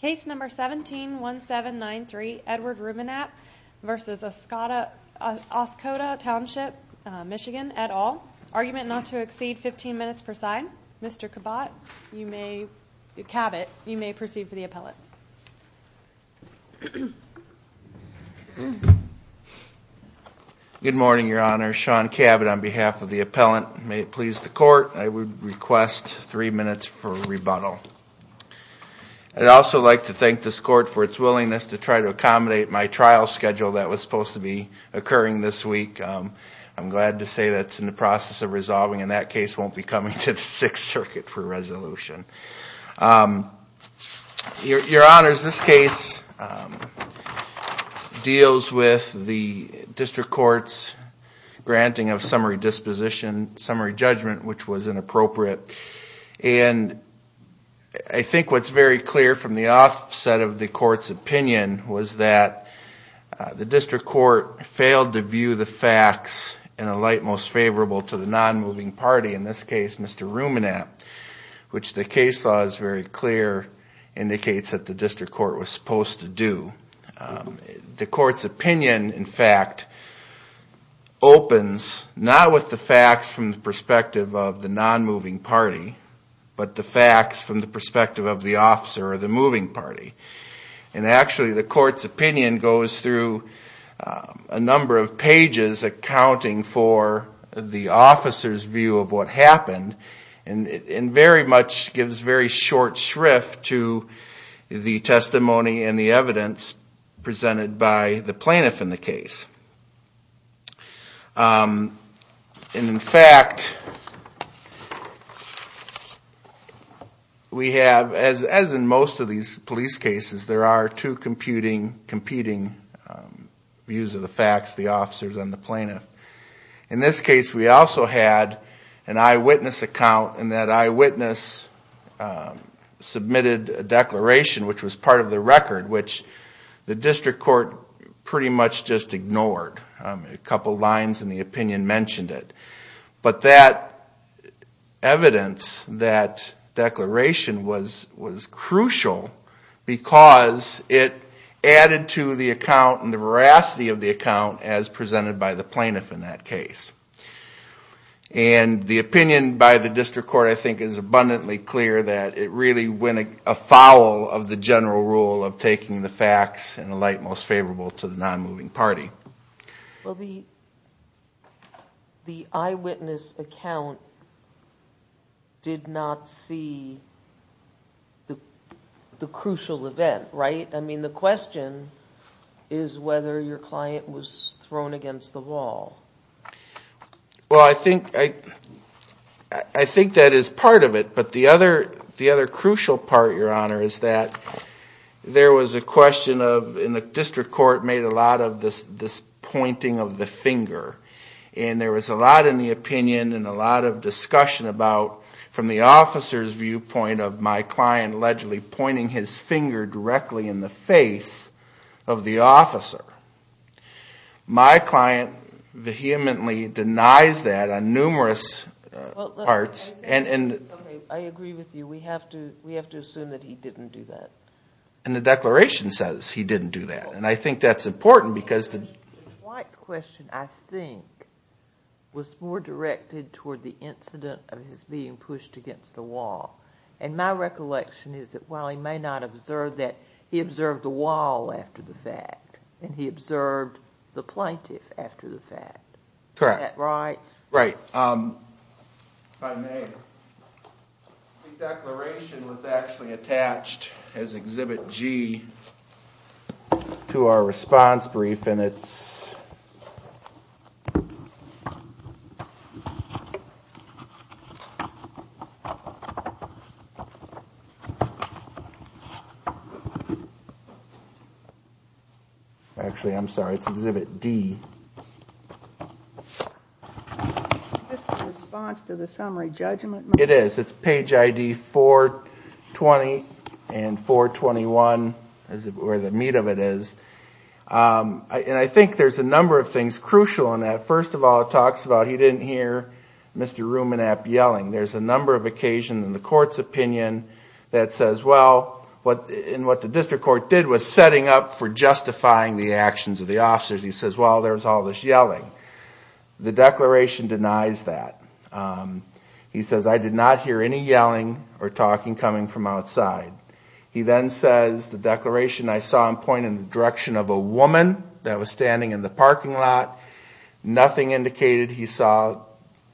Case number 171793, Edward Ruemenapp v. Oscoda Township MI et al. Argument not to exceed 15 minutes per sign. Mr. Cabot, you may proceed for the appellate. Good morning, Your Honor. Sean Cabot on behalf of the appellant. May it please the Court, I would request three minutes for rebuttal. I'd also like to thank this Court for its willingness to try to accommodate my trial schedule that was supposed to be occurring this week. I'm glad to say that it's in the process of resolving and that case won't be coming to the Sixth Circuit for resolution. Your Honor, this case deals with the District Court's granting of summary disposition, summary judgment, which was inappropriate. And I think what's very clear from the offset of the Court's opinion was that the District Court failed to view the facts in a light most favorable to the non-moving party. In this case, Mr. Ruemenapp, which the case law is very clear indicates that the District Court was supposed to do. The Court's opinion, in fact, opens not with the facts from the perspective of the non-moving party, but the facts from the perspective of the officer or the moving party. And actually, the Court's opinion goes through a number of pages accounting for the officer's view of what happened. And very much gives very short shrift to the testimony and the evidence presented by the plaintiff in the case. And in fact, we have, as in most of these police cases, there are two competing views of the facts, the officers and the plaintiff. In this case, we also had an eyewitness account, and that eyewitness submitted a declaration, which was part of the record, which the District Court pretty much just ignored. A couple lines in the opinion mentioned it. But that evidence, that declaration, was crucial because it added to the account and the veracity of the account as presented by the plaintiff in that case. And the opinion by the District Court, I think, is abundantly clear that it really went afoul of the general rule of taking the facts in a light most favorable to the non-moving party. Well, the eyewitness account did not see the crucial event, right? I mean, the question is whether your client was thrown against the wall. Well, I think that is part of it. But the other crucial part, Your Honor, is that there was a question of, and the District Court made a lot of this pointing of the finger. And there was a lot in the opinion and a lot of discussion about, from the officer's viewpoint of my client allegedly pointing his finger directly in the face of the officer. My client vehemently denies that on numerous parts. Okay, I agree with you. We have to assume that he didn't do that. And the declaration says he didn't do that. And I think that's important because the... White's question, I think, was more directed toward the incident of his being pushed against the wall. And my recollection is that while he may not observe that, he observed the wall after the fact. And he observed the plaintiff after the fact. Correct. Is that right? Right. If I may, the declaration was actually attached as Exhibit G to our response brief. And it's... Actually, I'm sorry, it's Exhibit D. Is this the response to the summary judgment? It is. It's page ID 420 and 421 is where the meat of it is. And I think there's a number of things crucial in that. First of all, it talks about he didn't hear Mr. Rumenap yelling. There's a number of occasions in the court's opinion that says, well... And what the district court did was setting up for justifying the actions of the officers. He says, well, there's all this yelling. The declaration denies that. He says, I did not hear any yelling or talking coming from outside. He then says, the declaration I saw him point in the direction of a woman that was standing in the parking lot. Nothing indicated he saw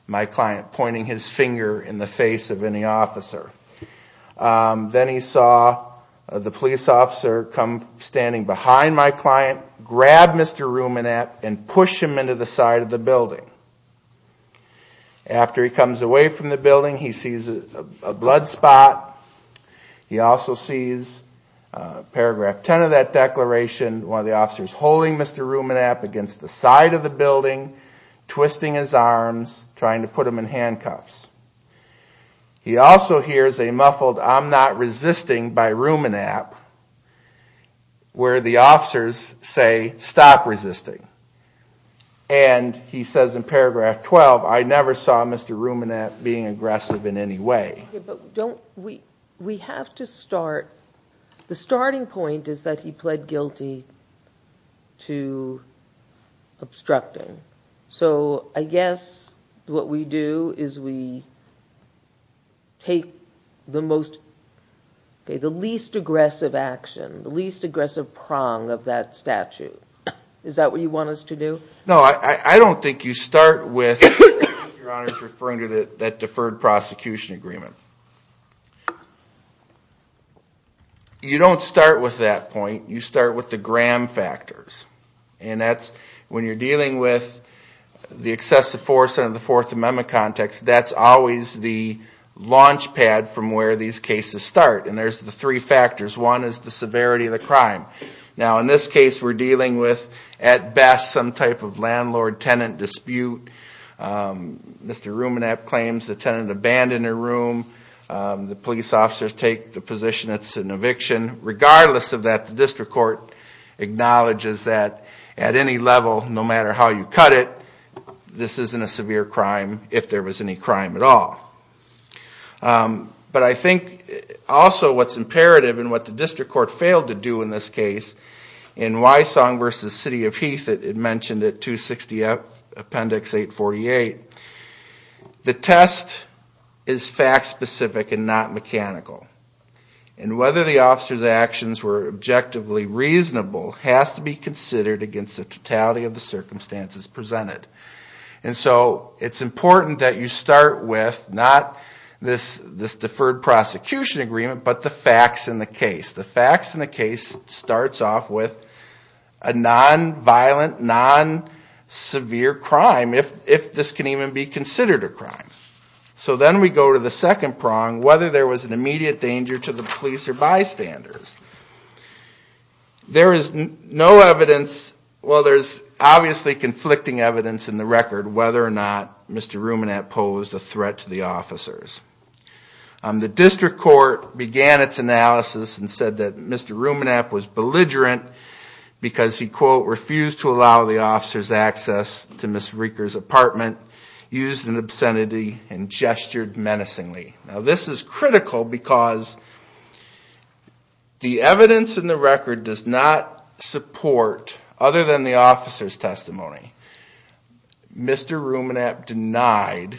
my client pointing his finger in the face of any officer. Then he saw the police officer come standing behind my client, grab Mr. Rumenap, and push him into the side of the building. After he comes away from the building, he sees a blood spot. He also sees, paragraph 10 of that declaration, one of the officers holding Mr. Rumenap against the side of the building, twisting his arms, trying to put him in handcuffs. He also hears a muffled, I'm not resisting by Rumenap, where the officers say, stop resisting. And he says in paragraph 12, I never saw Mr. Rumenap being aggressive in any way. We have to start, the starting point is that he pled guilty to obstructing. So I guess what we do is we take the least aggressive action, the least aggressive prong of that statute. Is that what you want us to do? No, I don't think you start with your honors referring to that deferred prosecution agreement. You don't start with that point. You start with the gram factors. And that's when you're dealing with the excessive force under the Fourth Amendment context, that's always the launch pad from where these cases start. And there's the three factors. One is the severity of the crime. Now, in this case, we're dealing with, at best, some type of landlord-tenant dispute. Mr. Rumenap claims the tenant abandoned a room. The police officers take the position it's an eviction. Regardless of that, the district court acknowledges that at any level, no matter how you cut it, this isn't a severe crime, if there was any crime at all. But I think also what's imperative and what the district court failed to do in this case, in Wysong v. City of Heath, it mentioned at 260 Appendix 848, the test is fact-specific and not mechanical. And whether the officers' actions were objectively reasonable has to be considered against the totality of the circumstances presented. And so it's important that you start with not this deferred prosecution agreement, but the facts in the case. The facts in the case starts off with a non-violent, non-severe crime, if this can even be considered a crime. So then we go to the second prong, whether there was an immediate danger to the police or bystanders. There is no evidence, well there's obviously conflicting evidence in the record, whether or not Mr. Rumenap posed a threat to the officers. The district court began its analysis and said that Mr. Rumenap was belligerent because he, quote, refused to allow the officers access to Ms. Reeker's apartment, used an obscenity, and gestured menacingly. Now this is critical because the evidence in the record does not support, other than the officer's testimony, Mr. Rumenap denied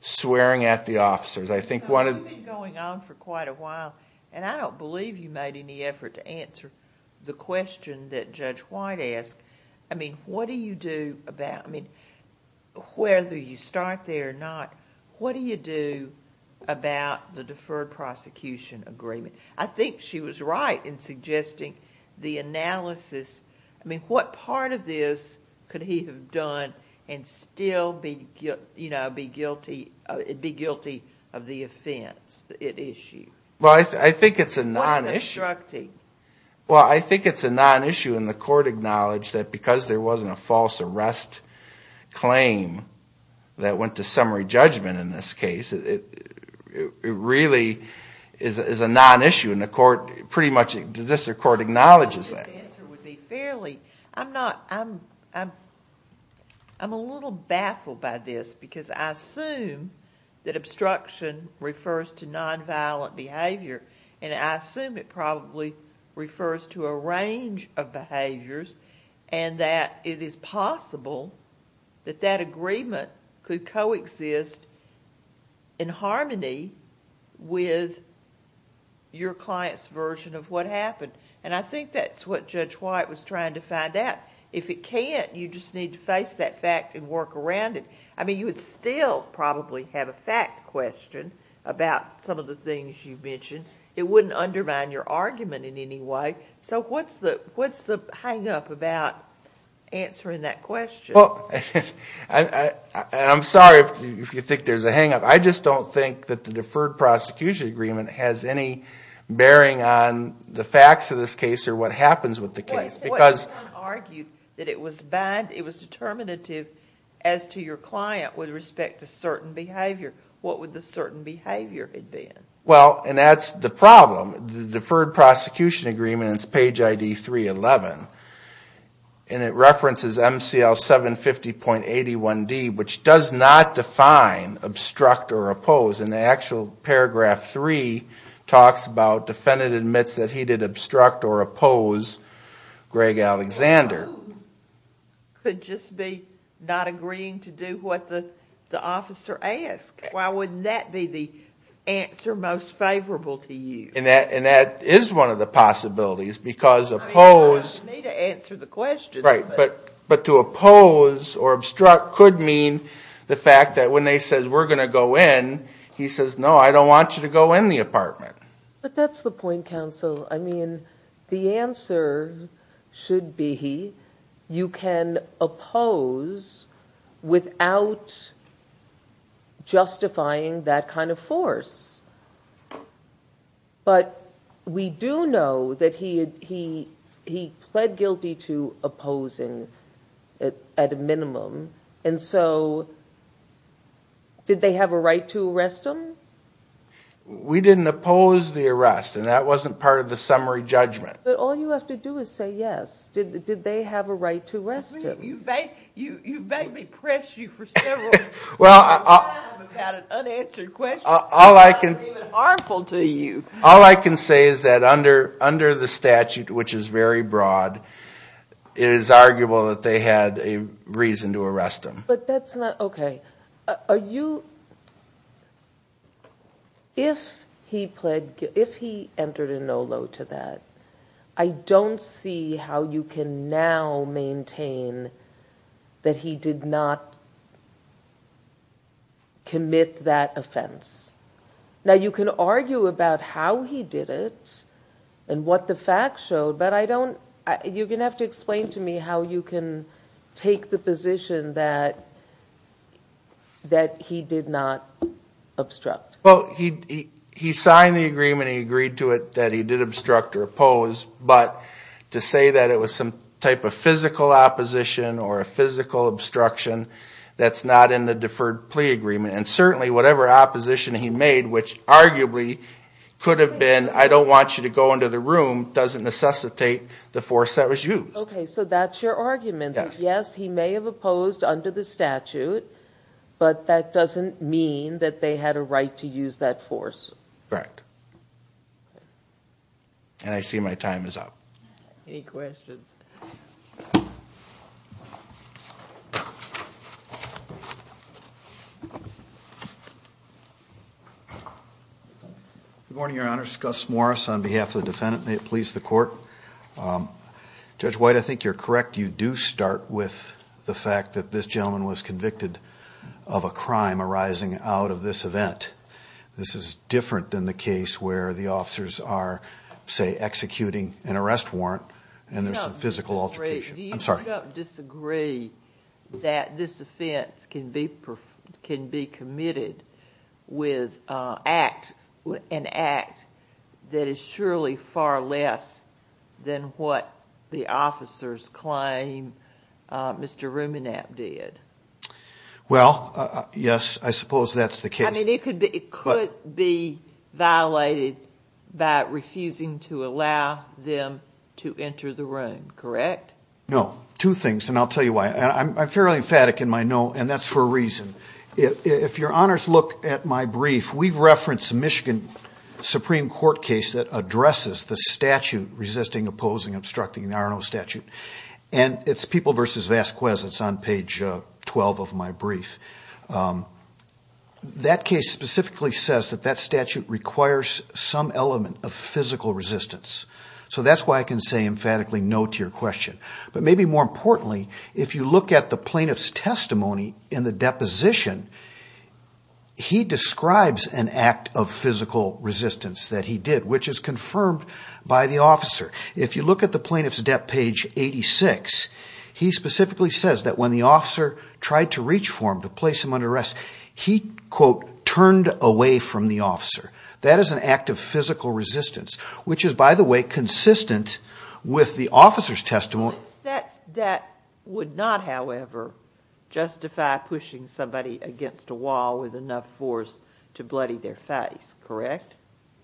swearing at the officers. I think one of the... It's been going on for quite a while, and I don't believe you made any effort to answer the question that Judge White asked. I mean, what do you do about, I mean, whether you start there or not, what do you do about the deferred prosecution agreement? I think she was right in suggesting the analysis. I mean, what part of this could he have done and still be guilty of the offense at issue? Well, I think it's a non-issue. What's obstructing? Well, I think it's a non-issue, and the court acknowledged that because there wasn't a false arrest claim that went to summary judgment in this case. It really is a non-issue, and the court pretty much, this court acknowledges that. The answer would be fairly. I'm a little baffled by this because I assume that obstruction refers to nonviolent behavior, and I assume it probably refers to a range of behaviors, and that it is possible that that agreement could coexist in harmony with your client's version of what happened. I think that's what Judge White was trying to find out. If it can't, you just need to face that fact and work around it. I mean, you would still probably have a fact question about some of the things you've mentioned. It wouldn't undermine your argument in any way. Okay. So what's the hang-up about answering that question? Well, I'm sorry if you think there's a hang-up. I just don't think that the deferred prosecution agreement has any bearing on the facts of this case or what happens with the case because— Well, you said someone argued that it was determinative as to your client with respect to certain behavior. What would the certain behavior have been? Well, and that's the problem. The deferred prosecution agreement, it's page ID 311, and it references MCL 750.81D, which does not define obstruct or oppose. In the actual paragraph 3, it talks about defendant admits that he did obstruct or oppose Greg Alexander. Could just be not agreeing to do what the officer asked. Why wouldn't that be the answer most favorable to you? And that is one of the possibilities because oppose— You need to answer the question. Right. But to oppose or obstruct could mean the fact that when they said, we're going to go in, he says, no, I don't want you to go in the apartment. But that's the point, counsel. I mean, the answer should be you can oppose without justifying that kind of force. But we do know that he pled guilty to opposing at a minimum. And so did they have a right to arrest him? We didn't oppose the arrest, and that wasn't part of the summary judgment. But all you have to do is say yes. Did they have a right to arrest him? You've made me press you for several seconds. I've had an unanswered question. It's not even harmful to you. All I can say is that under the statute, which is very broad, it is arguable that they had a reason to arrest him. But that's not—okay. Are you—if he pled—if he entered a no-load to that, I don't see how you can now maintain that he did not commit that offense. Now, you can argue about how he did it and what the facts showed, but I don't—you're going to have to explain to me how you can take the position that he did not obstruct. Well, he signed the agreement. He agreed to it that he did obstruct or oppose. But to say that it was some type of physical opposition or a physical obstruction, that's not in the deferred plea agreement. And certainly whatever opposition he made, which arguably could have been, I don't want you to go into the room, doesn't necessitate the force that was used. Okay, so that's your argument. Yes, he may have opposed under the statute, but that doesn't mean that they had a right to use that force. Correct. And I see my time is up. Any questions? Good morning, Your Honor. Gus Morris on behalf of the defendant. May it please the Court. Judge White, I think you're correct. You do start with the fact that this gentleman was convicted of a crime arising out of this event. This is different than the case where the officers are, say, executing an arrest warrant and there's some physical altercation. I'm sorry. Do you disagree that this offense can be committed with an act that is surely far less than what the officers claim Mr. Rumenap did? Well, yes, I suppose that's the case. I mean, it could be violated by refusing to allow them to enter the room, correct? No. Two things, and I'll tell you why. I'm fairly emphatic in my no, and that's for a reason. If Your Honors look at my brief, we've referenced a Michigan Supreme Court case that addresses the statute resisting, opposing, obstructing the Arno statute, and it's People v. Vasquez. It's on page 12 of my brief. That case specifically says that that statute requires some element of physical resistance. So that's why I can say emphatically no to your question. But maybe more importantly, if you look at the plaintiff's testimony in the deposition, he describes an act of physical resistance that he did, which is confirmed by the officer. If you look at the plaintiff's debt page 86, he specifically says that when the officer tried to reach for him to place him under arrest, he, quote, turned away from the officer. That is an act of physical resistance, which is, by the way, consistent with the officer's testimony. That would not, however, justify pushing somebody against a wall with enough force to bloody their face, correct?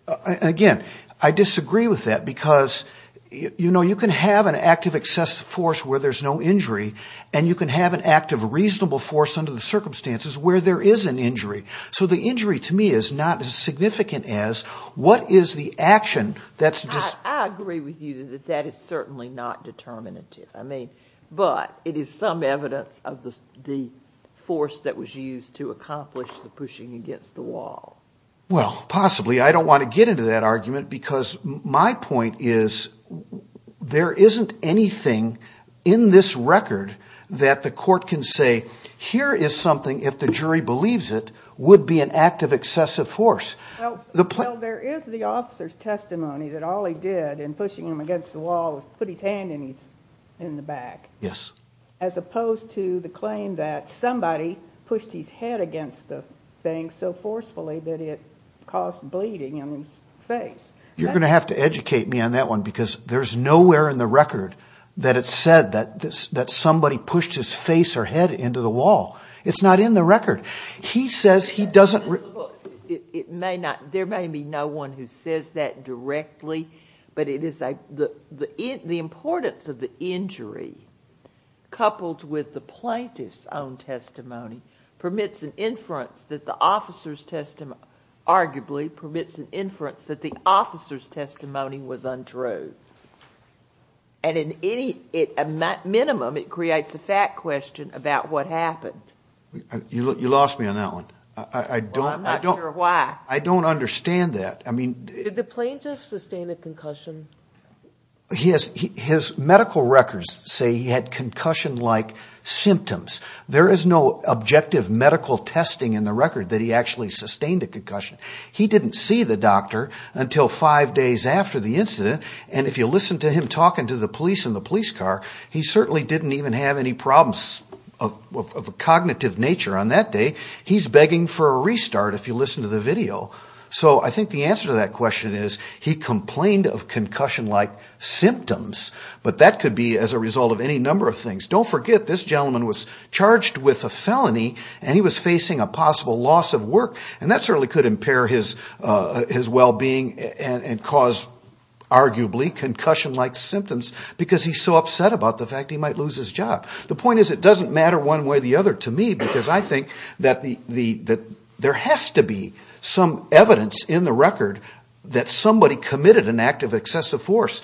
Again, I disagree with that because, you know, you can have an act of excessive force where there's no injury, and you can have an act of reasonable force under the circumstances where there is an injury. So the injury to me is not as significant as what is the action that's just ‑‑ I agree with you that that is certainly not determinative. I mean, but it is some evidence of the force that was used to accomplish the pushing against the wall. Well, possibly. I don't want to get into that argument because my point is there isn't anything in this record that the court can say, here is something, if the jury believes it, would be an act of excessive force. Well, there is the officer's testimony that all he did in pushing him against the wall was put his hand in the back. Yes. As opposed to the claim that somebody pushed his head against the thing so forcefully that it caused bleeding in his face. You're going to have to educate me on that one because there's nowhere in the record that it's said that somebody pushed his face or head into the wall. It's not in the record. He says he doesn't ‑‑ It may not ‑‑ there may be no one who says that directly, but it is a ‑‑ the importance of the injury coupled with the plaintiff's own testimony permits an inference that the officer's ‑‑ arguably permits an inference that the officer's testimony was untrue. And in any ‑‑ at minimum it creates a fact question about what happened. You lost me on that one. I don't ‑‑ Well, I'm not sure why. I don't understand that. Did the plaintiff sustain a concussion? His medical records say he had concussion‑like symptoms. There is no objective medical testing in the record that he actually sustained a concussion. He didn't see the doctor until five days after the incident, and if you listen to him talking to the police in the police car, he certainly didn't even have any problems of a cognitive nature on that day. He's begging for a restart if you listen to the video. So I think the answer to that question is he complained of concussion‑like symptoms, but that could be as a result of any number of things. Don't forget this gentleman was charged with a felony, and he was facing a possible loss of work, and that certainly could impair his well‑being and cause arguably concussion‑like symptoms because he's so upset about the fact he might lose his job. The point is it doesn't matter one way or the other to me because I think that there has to be some evidence in the record that somebody committed an act of excessive force.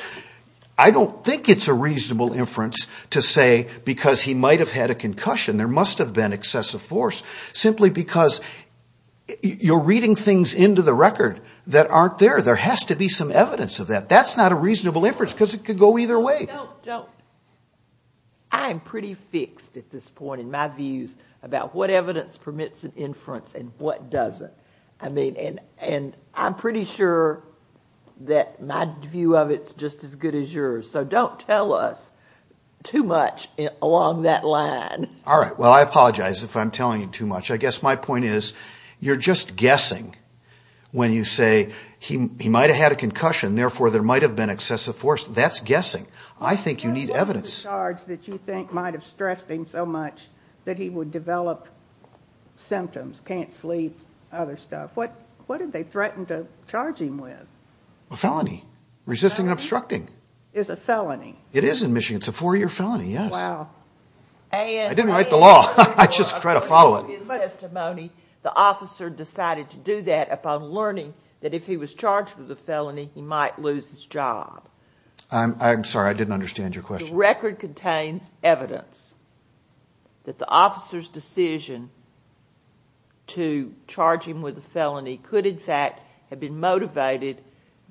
I don't think it's a reasonable inference to say because he might have had a concussion there must have been excessive force simply because you're reading things into the record that aren't there. There has to be some evidence of that. That's not a reasonable inference because it could go either way. I'm pretty fixed at this point in my views about what evidence permits an inference and what doesn't. I'm pretty sure that my view of it is just as good as yours, so don't tell us too much along that line. All right. Well, I apologize if I'm telling you too much. I guess my point is you're just guessing when you say he might have had a concussion, therefore there might have been excessive force. That's guessing. I think you need evidence. What was the charge that you think might have stressed him so much that he would develop symptoms, can't sleep, other stuff? What did they threaten to charge him with? A felony. Resisting and obstructing. Is it a felony? It is in Michigan. It's a four-year felony, yes. Wow. I didn't write the law. I just tried to follow it. In his testimony, the officer decided to do that upon learning that if he was charged with a felony, he might lose his job. I'm sorry, I didn't understand your question. The record contains evidence that the officer's decision to charge him with a felony could in fact have been motivated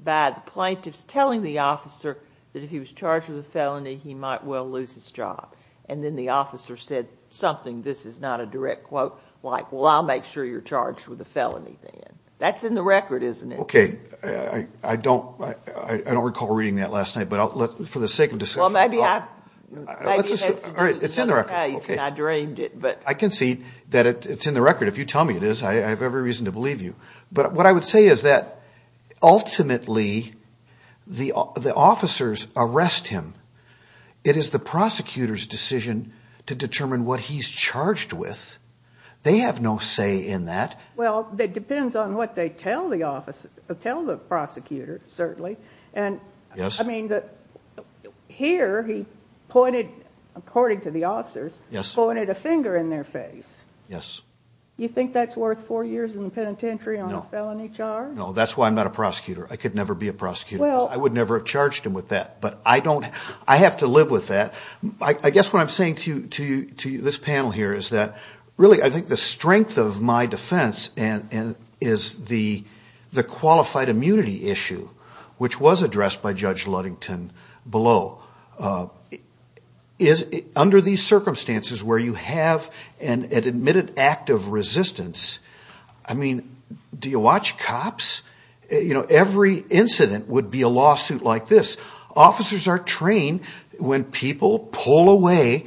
by the plaintiffs telling the officer that if he was charged with a felony, he might well lose his job, and then the officer said something, this is not a direct quote, like, well, I'll make sure you're charged with a felony then. That's in the record, isn't it? Okay. I don't recall reading that last night, but for the sake of discussion. Well, maybe it has to do with another case, and I dreamed it. I can see that it's in the record. If you tell me it is, I have every reason to believe you. But what I would say is that ultimately the officers arrest him. It is the prosecutor's decision to determine what he's charged with. They have no say in that. Well, it depends on what they tell the prosecutor, certainly. I mean, here he pointed, according to the officers, pointed a finger in their face. Yes. You think that's worth four years in the penitentiary on a felony charge? No, that's why I'm not a prosecutor. I could never be a prosecutor. I would never have charged him with that. But I have to live with that. I guess what I'm saying to you, this panel here, is that really I think the strength of my defense is the qualified immunity issue, which was addressed by Judge Ludington below. Under these circumstances where you have an admitted act of resistance, I mean, do you watch cops? Every incident would be a lawsuit like this. Officers are trained when people pull away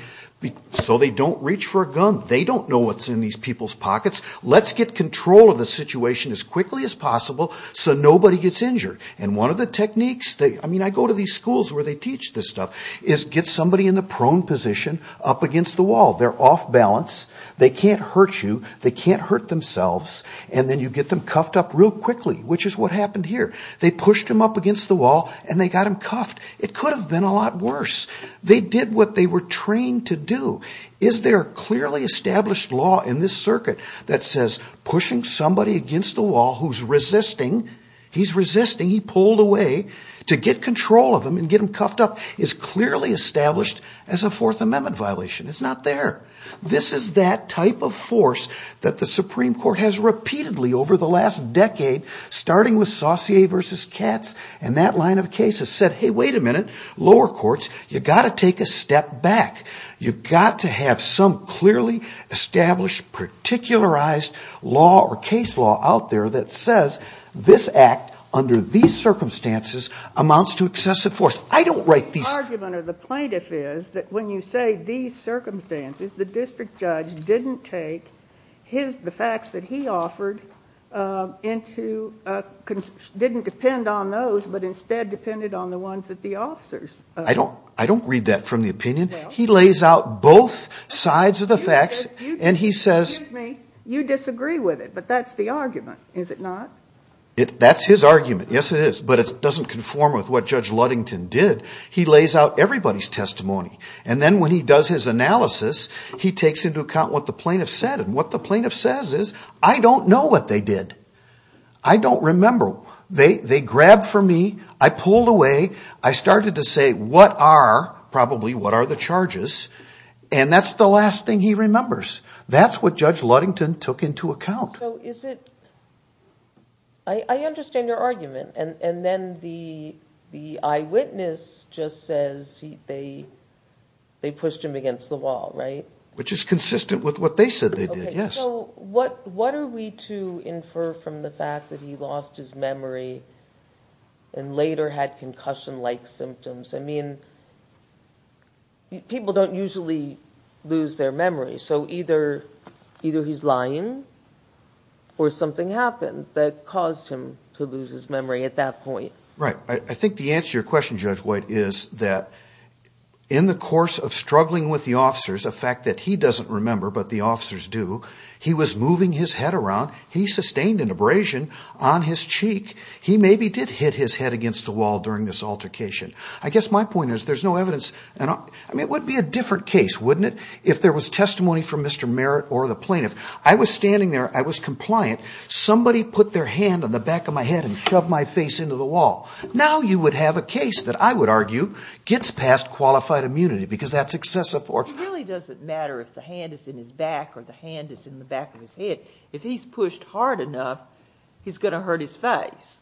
so they don't reach for a gun. They don't know what's in these people's pockets. Let's get control of the situation as quickly as possible so nobody gets injured. And one of the techniques, I mean, I go to these schools where they teach this stuff, is get somebody in the prone position up against the wall. They're off balance. They can't hurt you. They can't hurt themselves. And then you get them cuffed up real quickly, which is what happened here. They pushed him up against the wall and they got him cuffed. It could have been a lot worse. They did what they were trained to do. Is there a clearly established law in this circuit that says pushing somebody against the wall who's resisting, he's resisting, he pulled away, to get control of him and get him cuffed up is clearly established as a Fourth Amendment violation? It's not there. This is that type of force that the Supreme Court has repeatedly over the last decade, starting with Saucier v. Katz and that line of cases, said, hey, wait a minute, lower courts, you've got to take a step back. You've got to have some clearly established, particularized law or case law out there that says this act under these circumstances amounts to excessive force. I don't write these. The argument of the plaintiff is that when you say these circumstances, the district judge didn't take the facts that he offered into, didn't depend on those, but instead depended on the ones that the officers offered. I don't read that from the opinion. He lays out both sides of the facts and he says. Excuse me. You disagree with it, but that's the argument, is it not? That's his argument. Yes, it is. But it doesn't conform with what Judge Ludington did. He lays out everybody's testimony. And then when he does his analysis, he takes into account what the plaintiff said. And what the plaintiff says is, I don't know what they did. I don't remember. They grabbed from me. I pulled away. I started to say, what are, probably, what are the charges? And that's the last thing he remembers. That's what Judge Ludington took into account. I understand your argument. And then the eyewitness just says they pushed him against the wall, right? Which is consistent with what they said they did, yes. So what are we to infer from the fact that he lost his memory and later had concussion-like symptoms? I mean, people don't usually lose their memory. So either he's lying or something happened that caused him to lose his memory at that point. Right. I think the answer to your question, Judge White, is that in the course of struggling with the officers, a fact that he doesn't remember but the officers do, he was moving his head around. He sustained an abrasion on his cheek. He maybe did hit his head against the wall during this altercation. I guess my point is there's no evidence. I mean, it would be a different case, wouldn't it, if there was testimony from Mr. Merritt or the plaintiff. I was standing there. I was compliant. Somebody put their hand on the back of my head and shoved my face into the wall. Now you would have a case that I would argue gets past qualified immunity because that's excessive force. It really doesn't matter if the hand is in his back or the hand is in the back of his head. If he's pushed hard enough, he's going to hurt his face,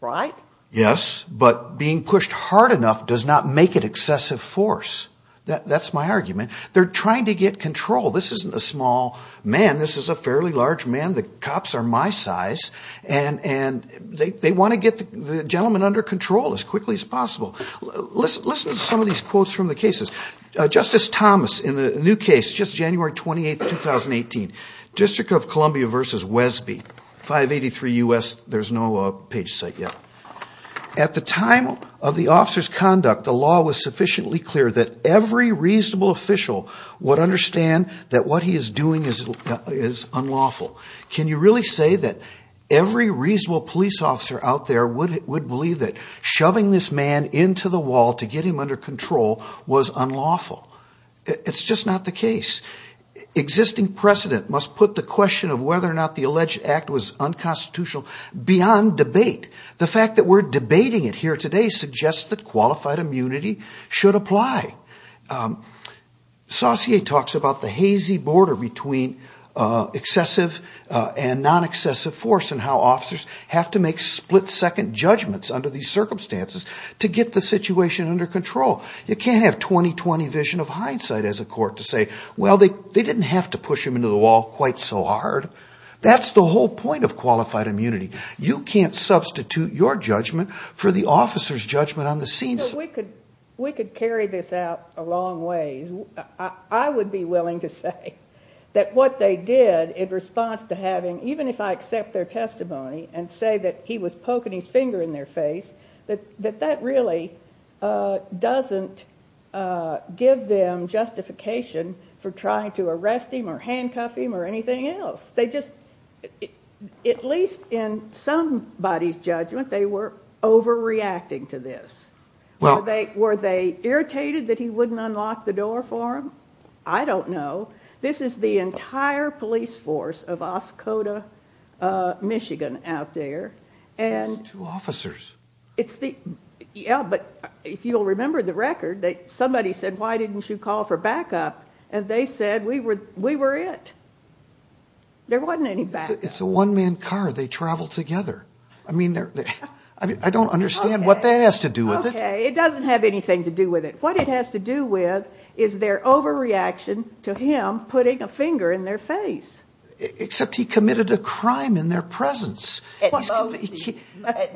right? Yes, but being pushed hard enough does not make it excessive force. That's my argument. They're trying to get control. This isn't a small man. This is a fairly large man. The cops are my size, and they want to get the gentleman under control as quickly as possible. Listen to some of these quotes from the cases. Justice Thomas, in the new case, just January 28, 2018, District of Columbia v. Wesby, 583 U.S. There's no page site yet. At the time of the officer's conduct, the law was sufficiently clear that every reasonable official would understand that what he is doing is unlawful. Can you really say that every reasonable police officer out there would believe that shoving this man into the wall to get him under control was unlawful? It's just not the case. Existing precedent must put the question of whether or not the alleged act was unconstitutional beyond debate. The fact that we're debating it here today suggests that qualified immunity should apply. Saussure talks about the hazy border between excessive and non-excessive force and how officers have to make split-second judgments under these circumstances to get the situation under control. You can't have 20-20 vision of hindsight as a court to say, well, they didn't have to push him into the wall quite so hard. That's the whole point of qualified immunity. You can't substitute your judgment for the officer's judgment on the scene. We could carry this out a long way. I would be willing to say that what they did in response to having, even if I accept their testimony and say that he was poking his finger in their face, that that really doesn't give them justification for trying to arrest him or handcuff him or anything else. At least in somebody's judgment, they were overreacting to this. Were they irritated that he wouldn't unlock the door for them? I don't know. This is the entire police force of Oscoda, Michigan out there. Those two officers. Yeah, but if you'll remember the record, somebody said, why didn't you call for backup? And they said, we were it. There wasn't any backup. It's a one-man car. They travel together. I mean, I don't understand what that has to do with it. It doesn't have anything to do with it. What it has to do with is their overreaction to him putting a finger in their face. Except he committed a crime in their presence. At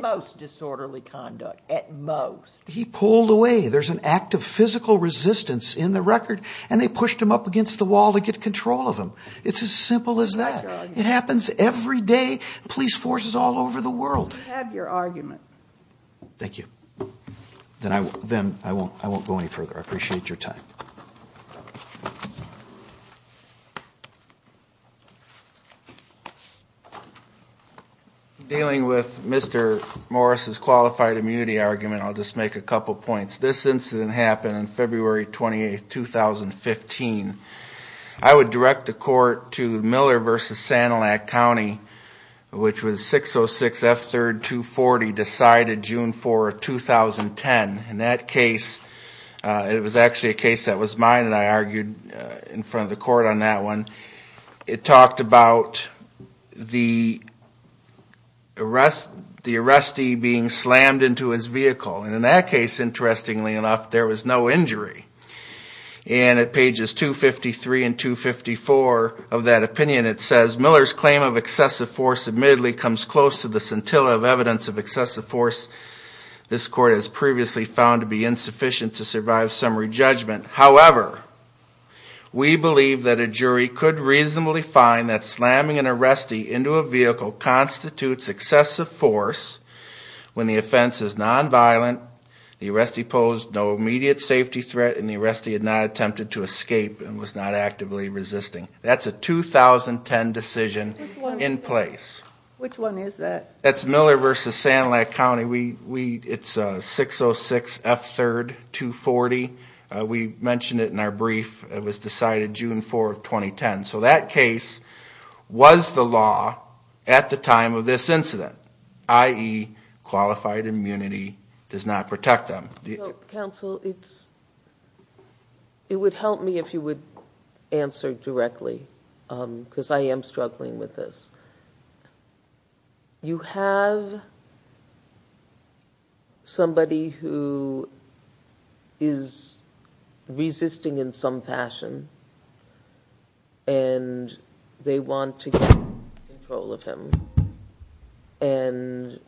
most disorderly conduct. At most. He pulled away. There's an act of physical resistance in the record. And they pushed him up against the wall to get control of him. It's as simple as that. It happens every day. Police forces all over the world. You have your argument. Thank you. Then I won't go any further. I appreciate your time. Dealing with Mr. Morris's qualified immunity argument, I'll just make a couple points. This incident happened on February 28, 2015. I would direct the court to Miller v. Sanilac County, which was 606 F3rd 240 decided June 4, 2010. In that case, it was actually a case that was mine that I argued in front of the court on that one. It talked about the arrestee being slammed into his vehicle. And in that case, interestingly enough, there was no injury. And at pages 253 and 254 of that opinion, it says, Miller's claim of excessive force admittedly comes close to the scintilla of evidence of excessive force this court has previously found to be insufficient to survive summary judgment. However, we believe that a jury could reasonably find that slamming an arrestee into a vehicle constitutes excessive force when the offense is nonviolent, the arrestee posed no immediate safety threat, and the arrestee had not attempted to escape and was not actively resisting. That's a 2010 decision in place. Which one is that? That's Miller v. Sanilac County. It's 606 F3rd 240. We mentioned it in our brief. It was decided June 4, 2010. So that case was the law at the time of this incident, i.e., qualified immunity does not protect them. Counsel, it would help me if you would answer directly because I am struggling with this. You have somebody who is resisting in some fashion, and they want to get control of him. And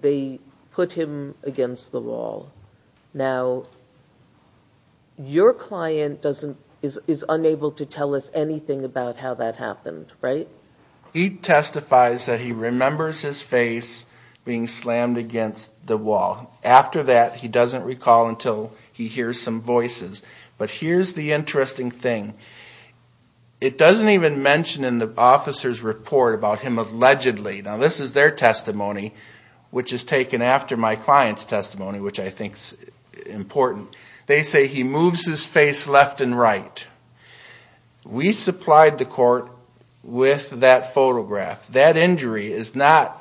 they put him against the wall. Now, your client is unable to tell us anything about how that happened, right? He testifies that he remembers his face being slammed against the wall. After that, he doesn't recall until he hears some voices. But here's the interesting thing. It doesn't even mention in the officer's report about him allegedly. Now, this is their testimony, which is taken after my client's testimony, which I think is important. They say he moves his face left and right. We supplied the court with that photograph. That injury is not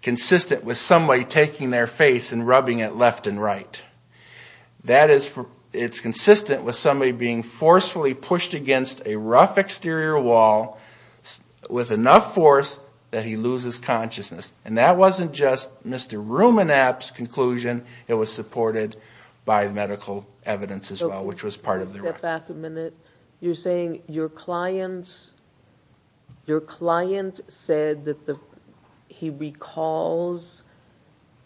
consistent with somebody taking their face and rubbing it left and right. It's consistent with somebody being forcefully pushed against a rough exterior wall with enough force that he loses consciousness. And that wasn't just Mr. Rumenap's conclusion. It was supported by medical evidence as well, which was part of their record. You're saying your client said that he recalls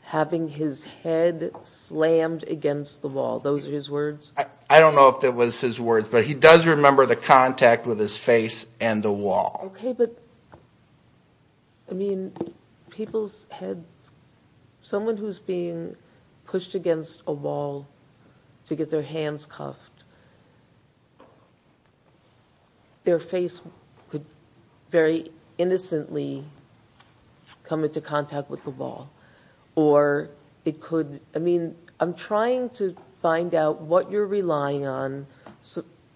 having his head slammed against the wall. Those are his words? I don't know if that was his words, but he does remember the contact with his face and the wall. Okay, but someone who's being pushed against a wall to get their hands cuffed, their face could very innocently come into contact with the wall. I'm trying to find out what you're relying on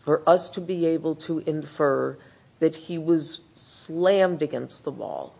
for us to be able to infer that he was slammed against the wall.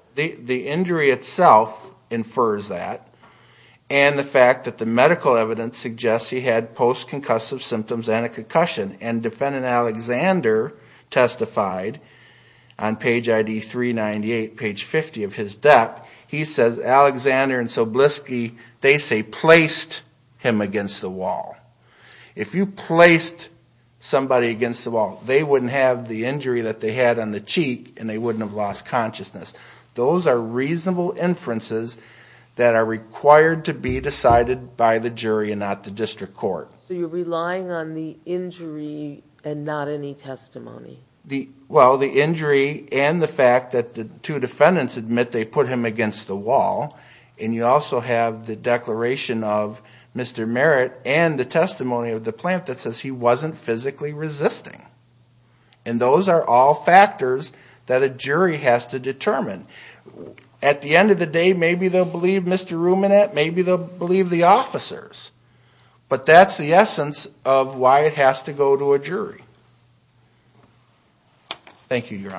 Those are reasonable inferences that are required to be decided by the jury and not the district court. So you're relying on the injury and not any testimony? Well, the injury and the fact that the two defendants admit they put him against the wall. And you also have the declaration of Mr. Merritt and the testimony of the plant that says he wasn't physically resisting. And those are all factors that a jury has to determine. At the end of the day, maybe they'll believe Mr. Ruminant, maybe they'll believe the officers. But that's the essence of why it has to go to a jury. Thank you, Your Honors.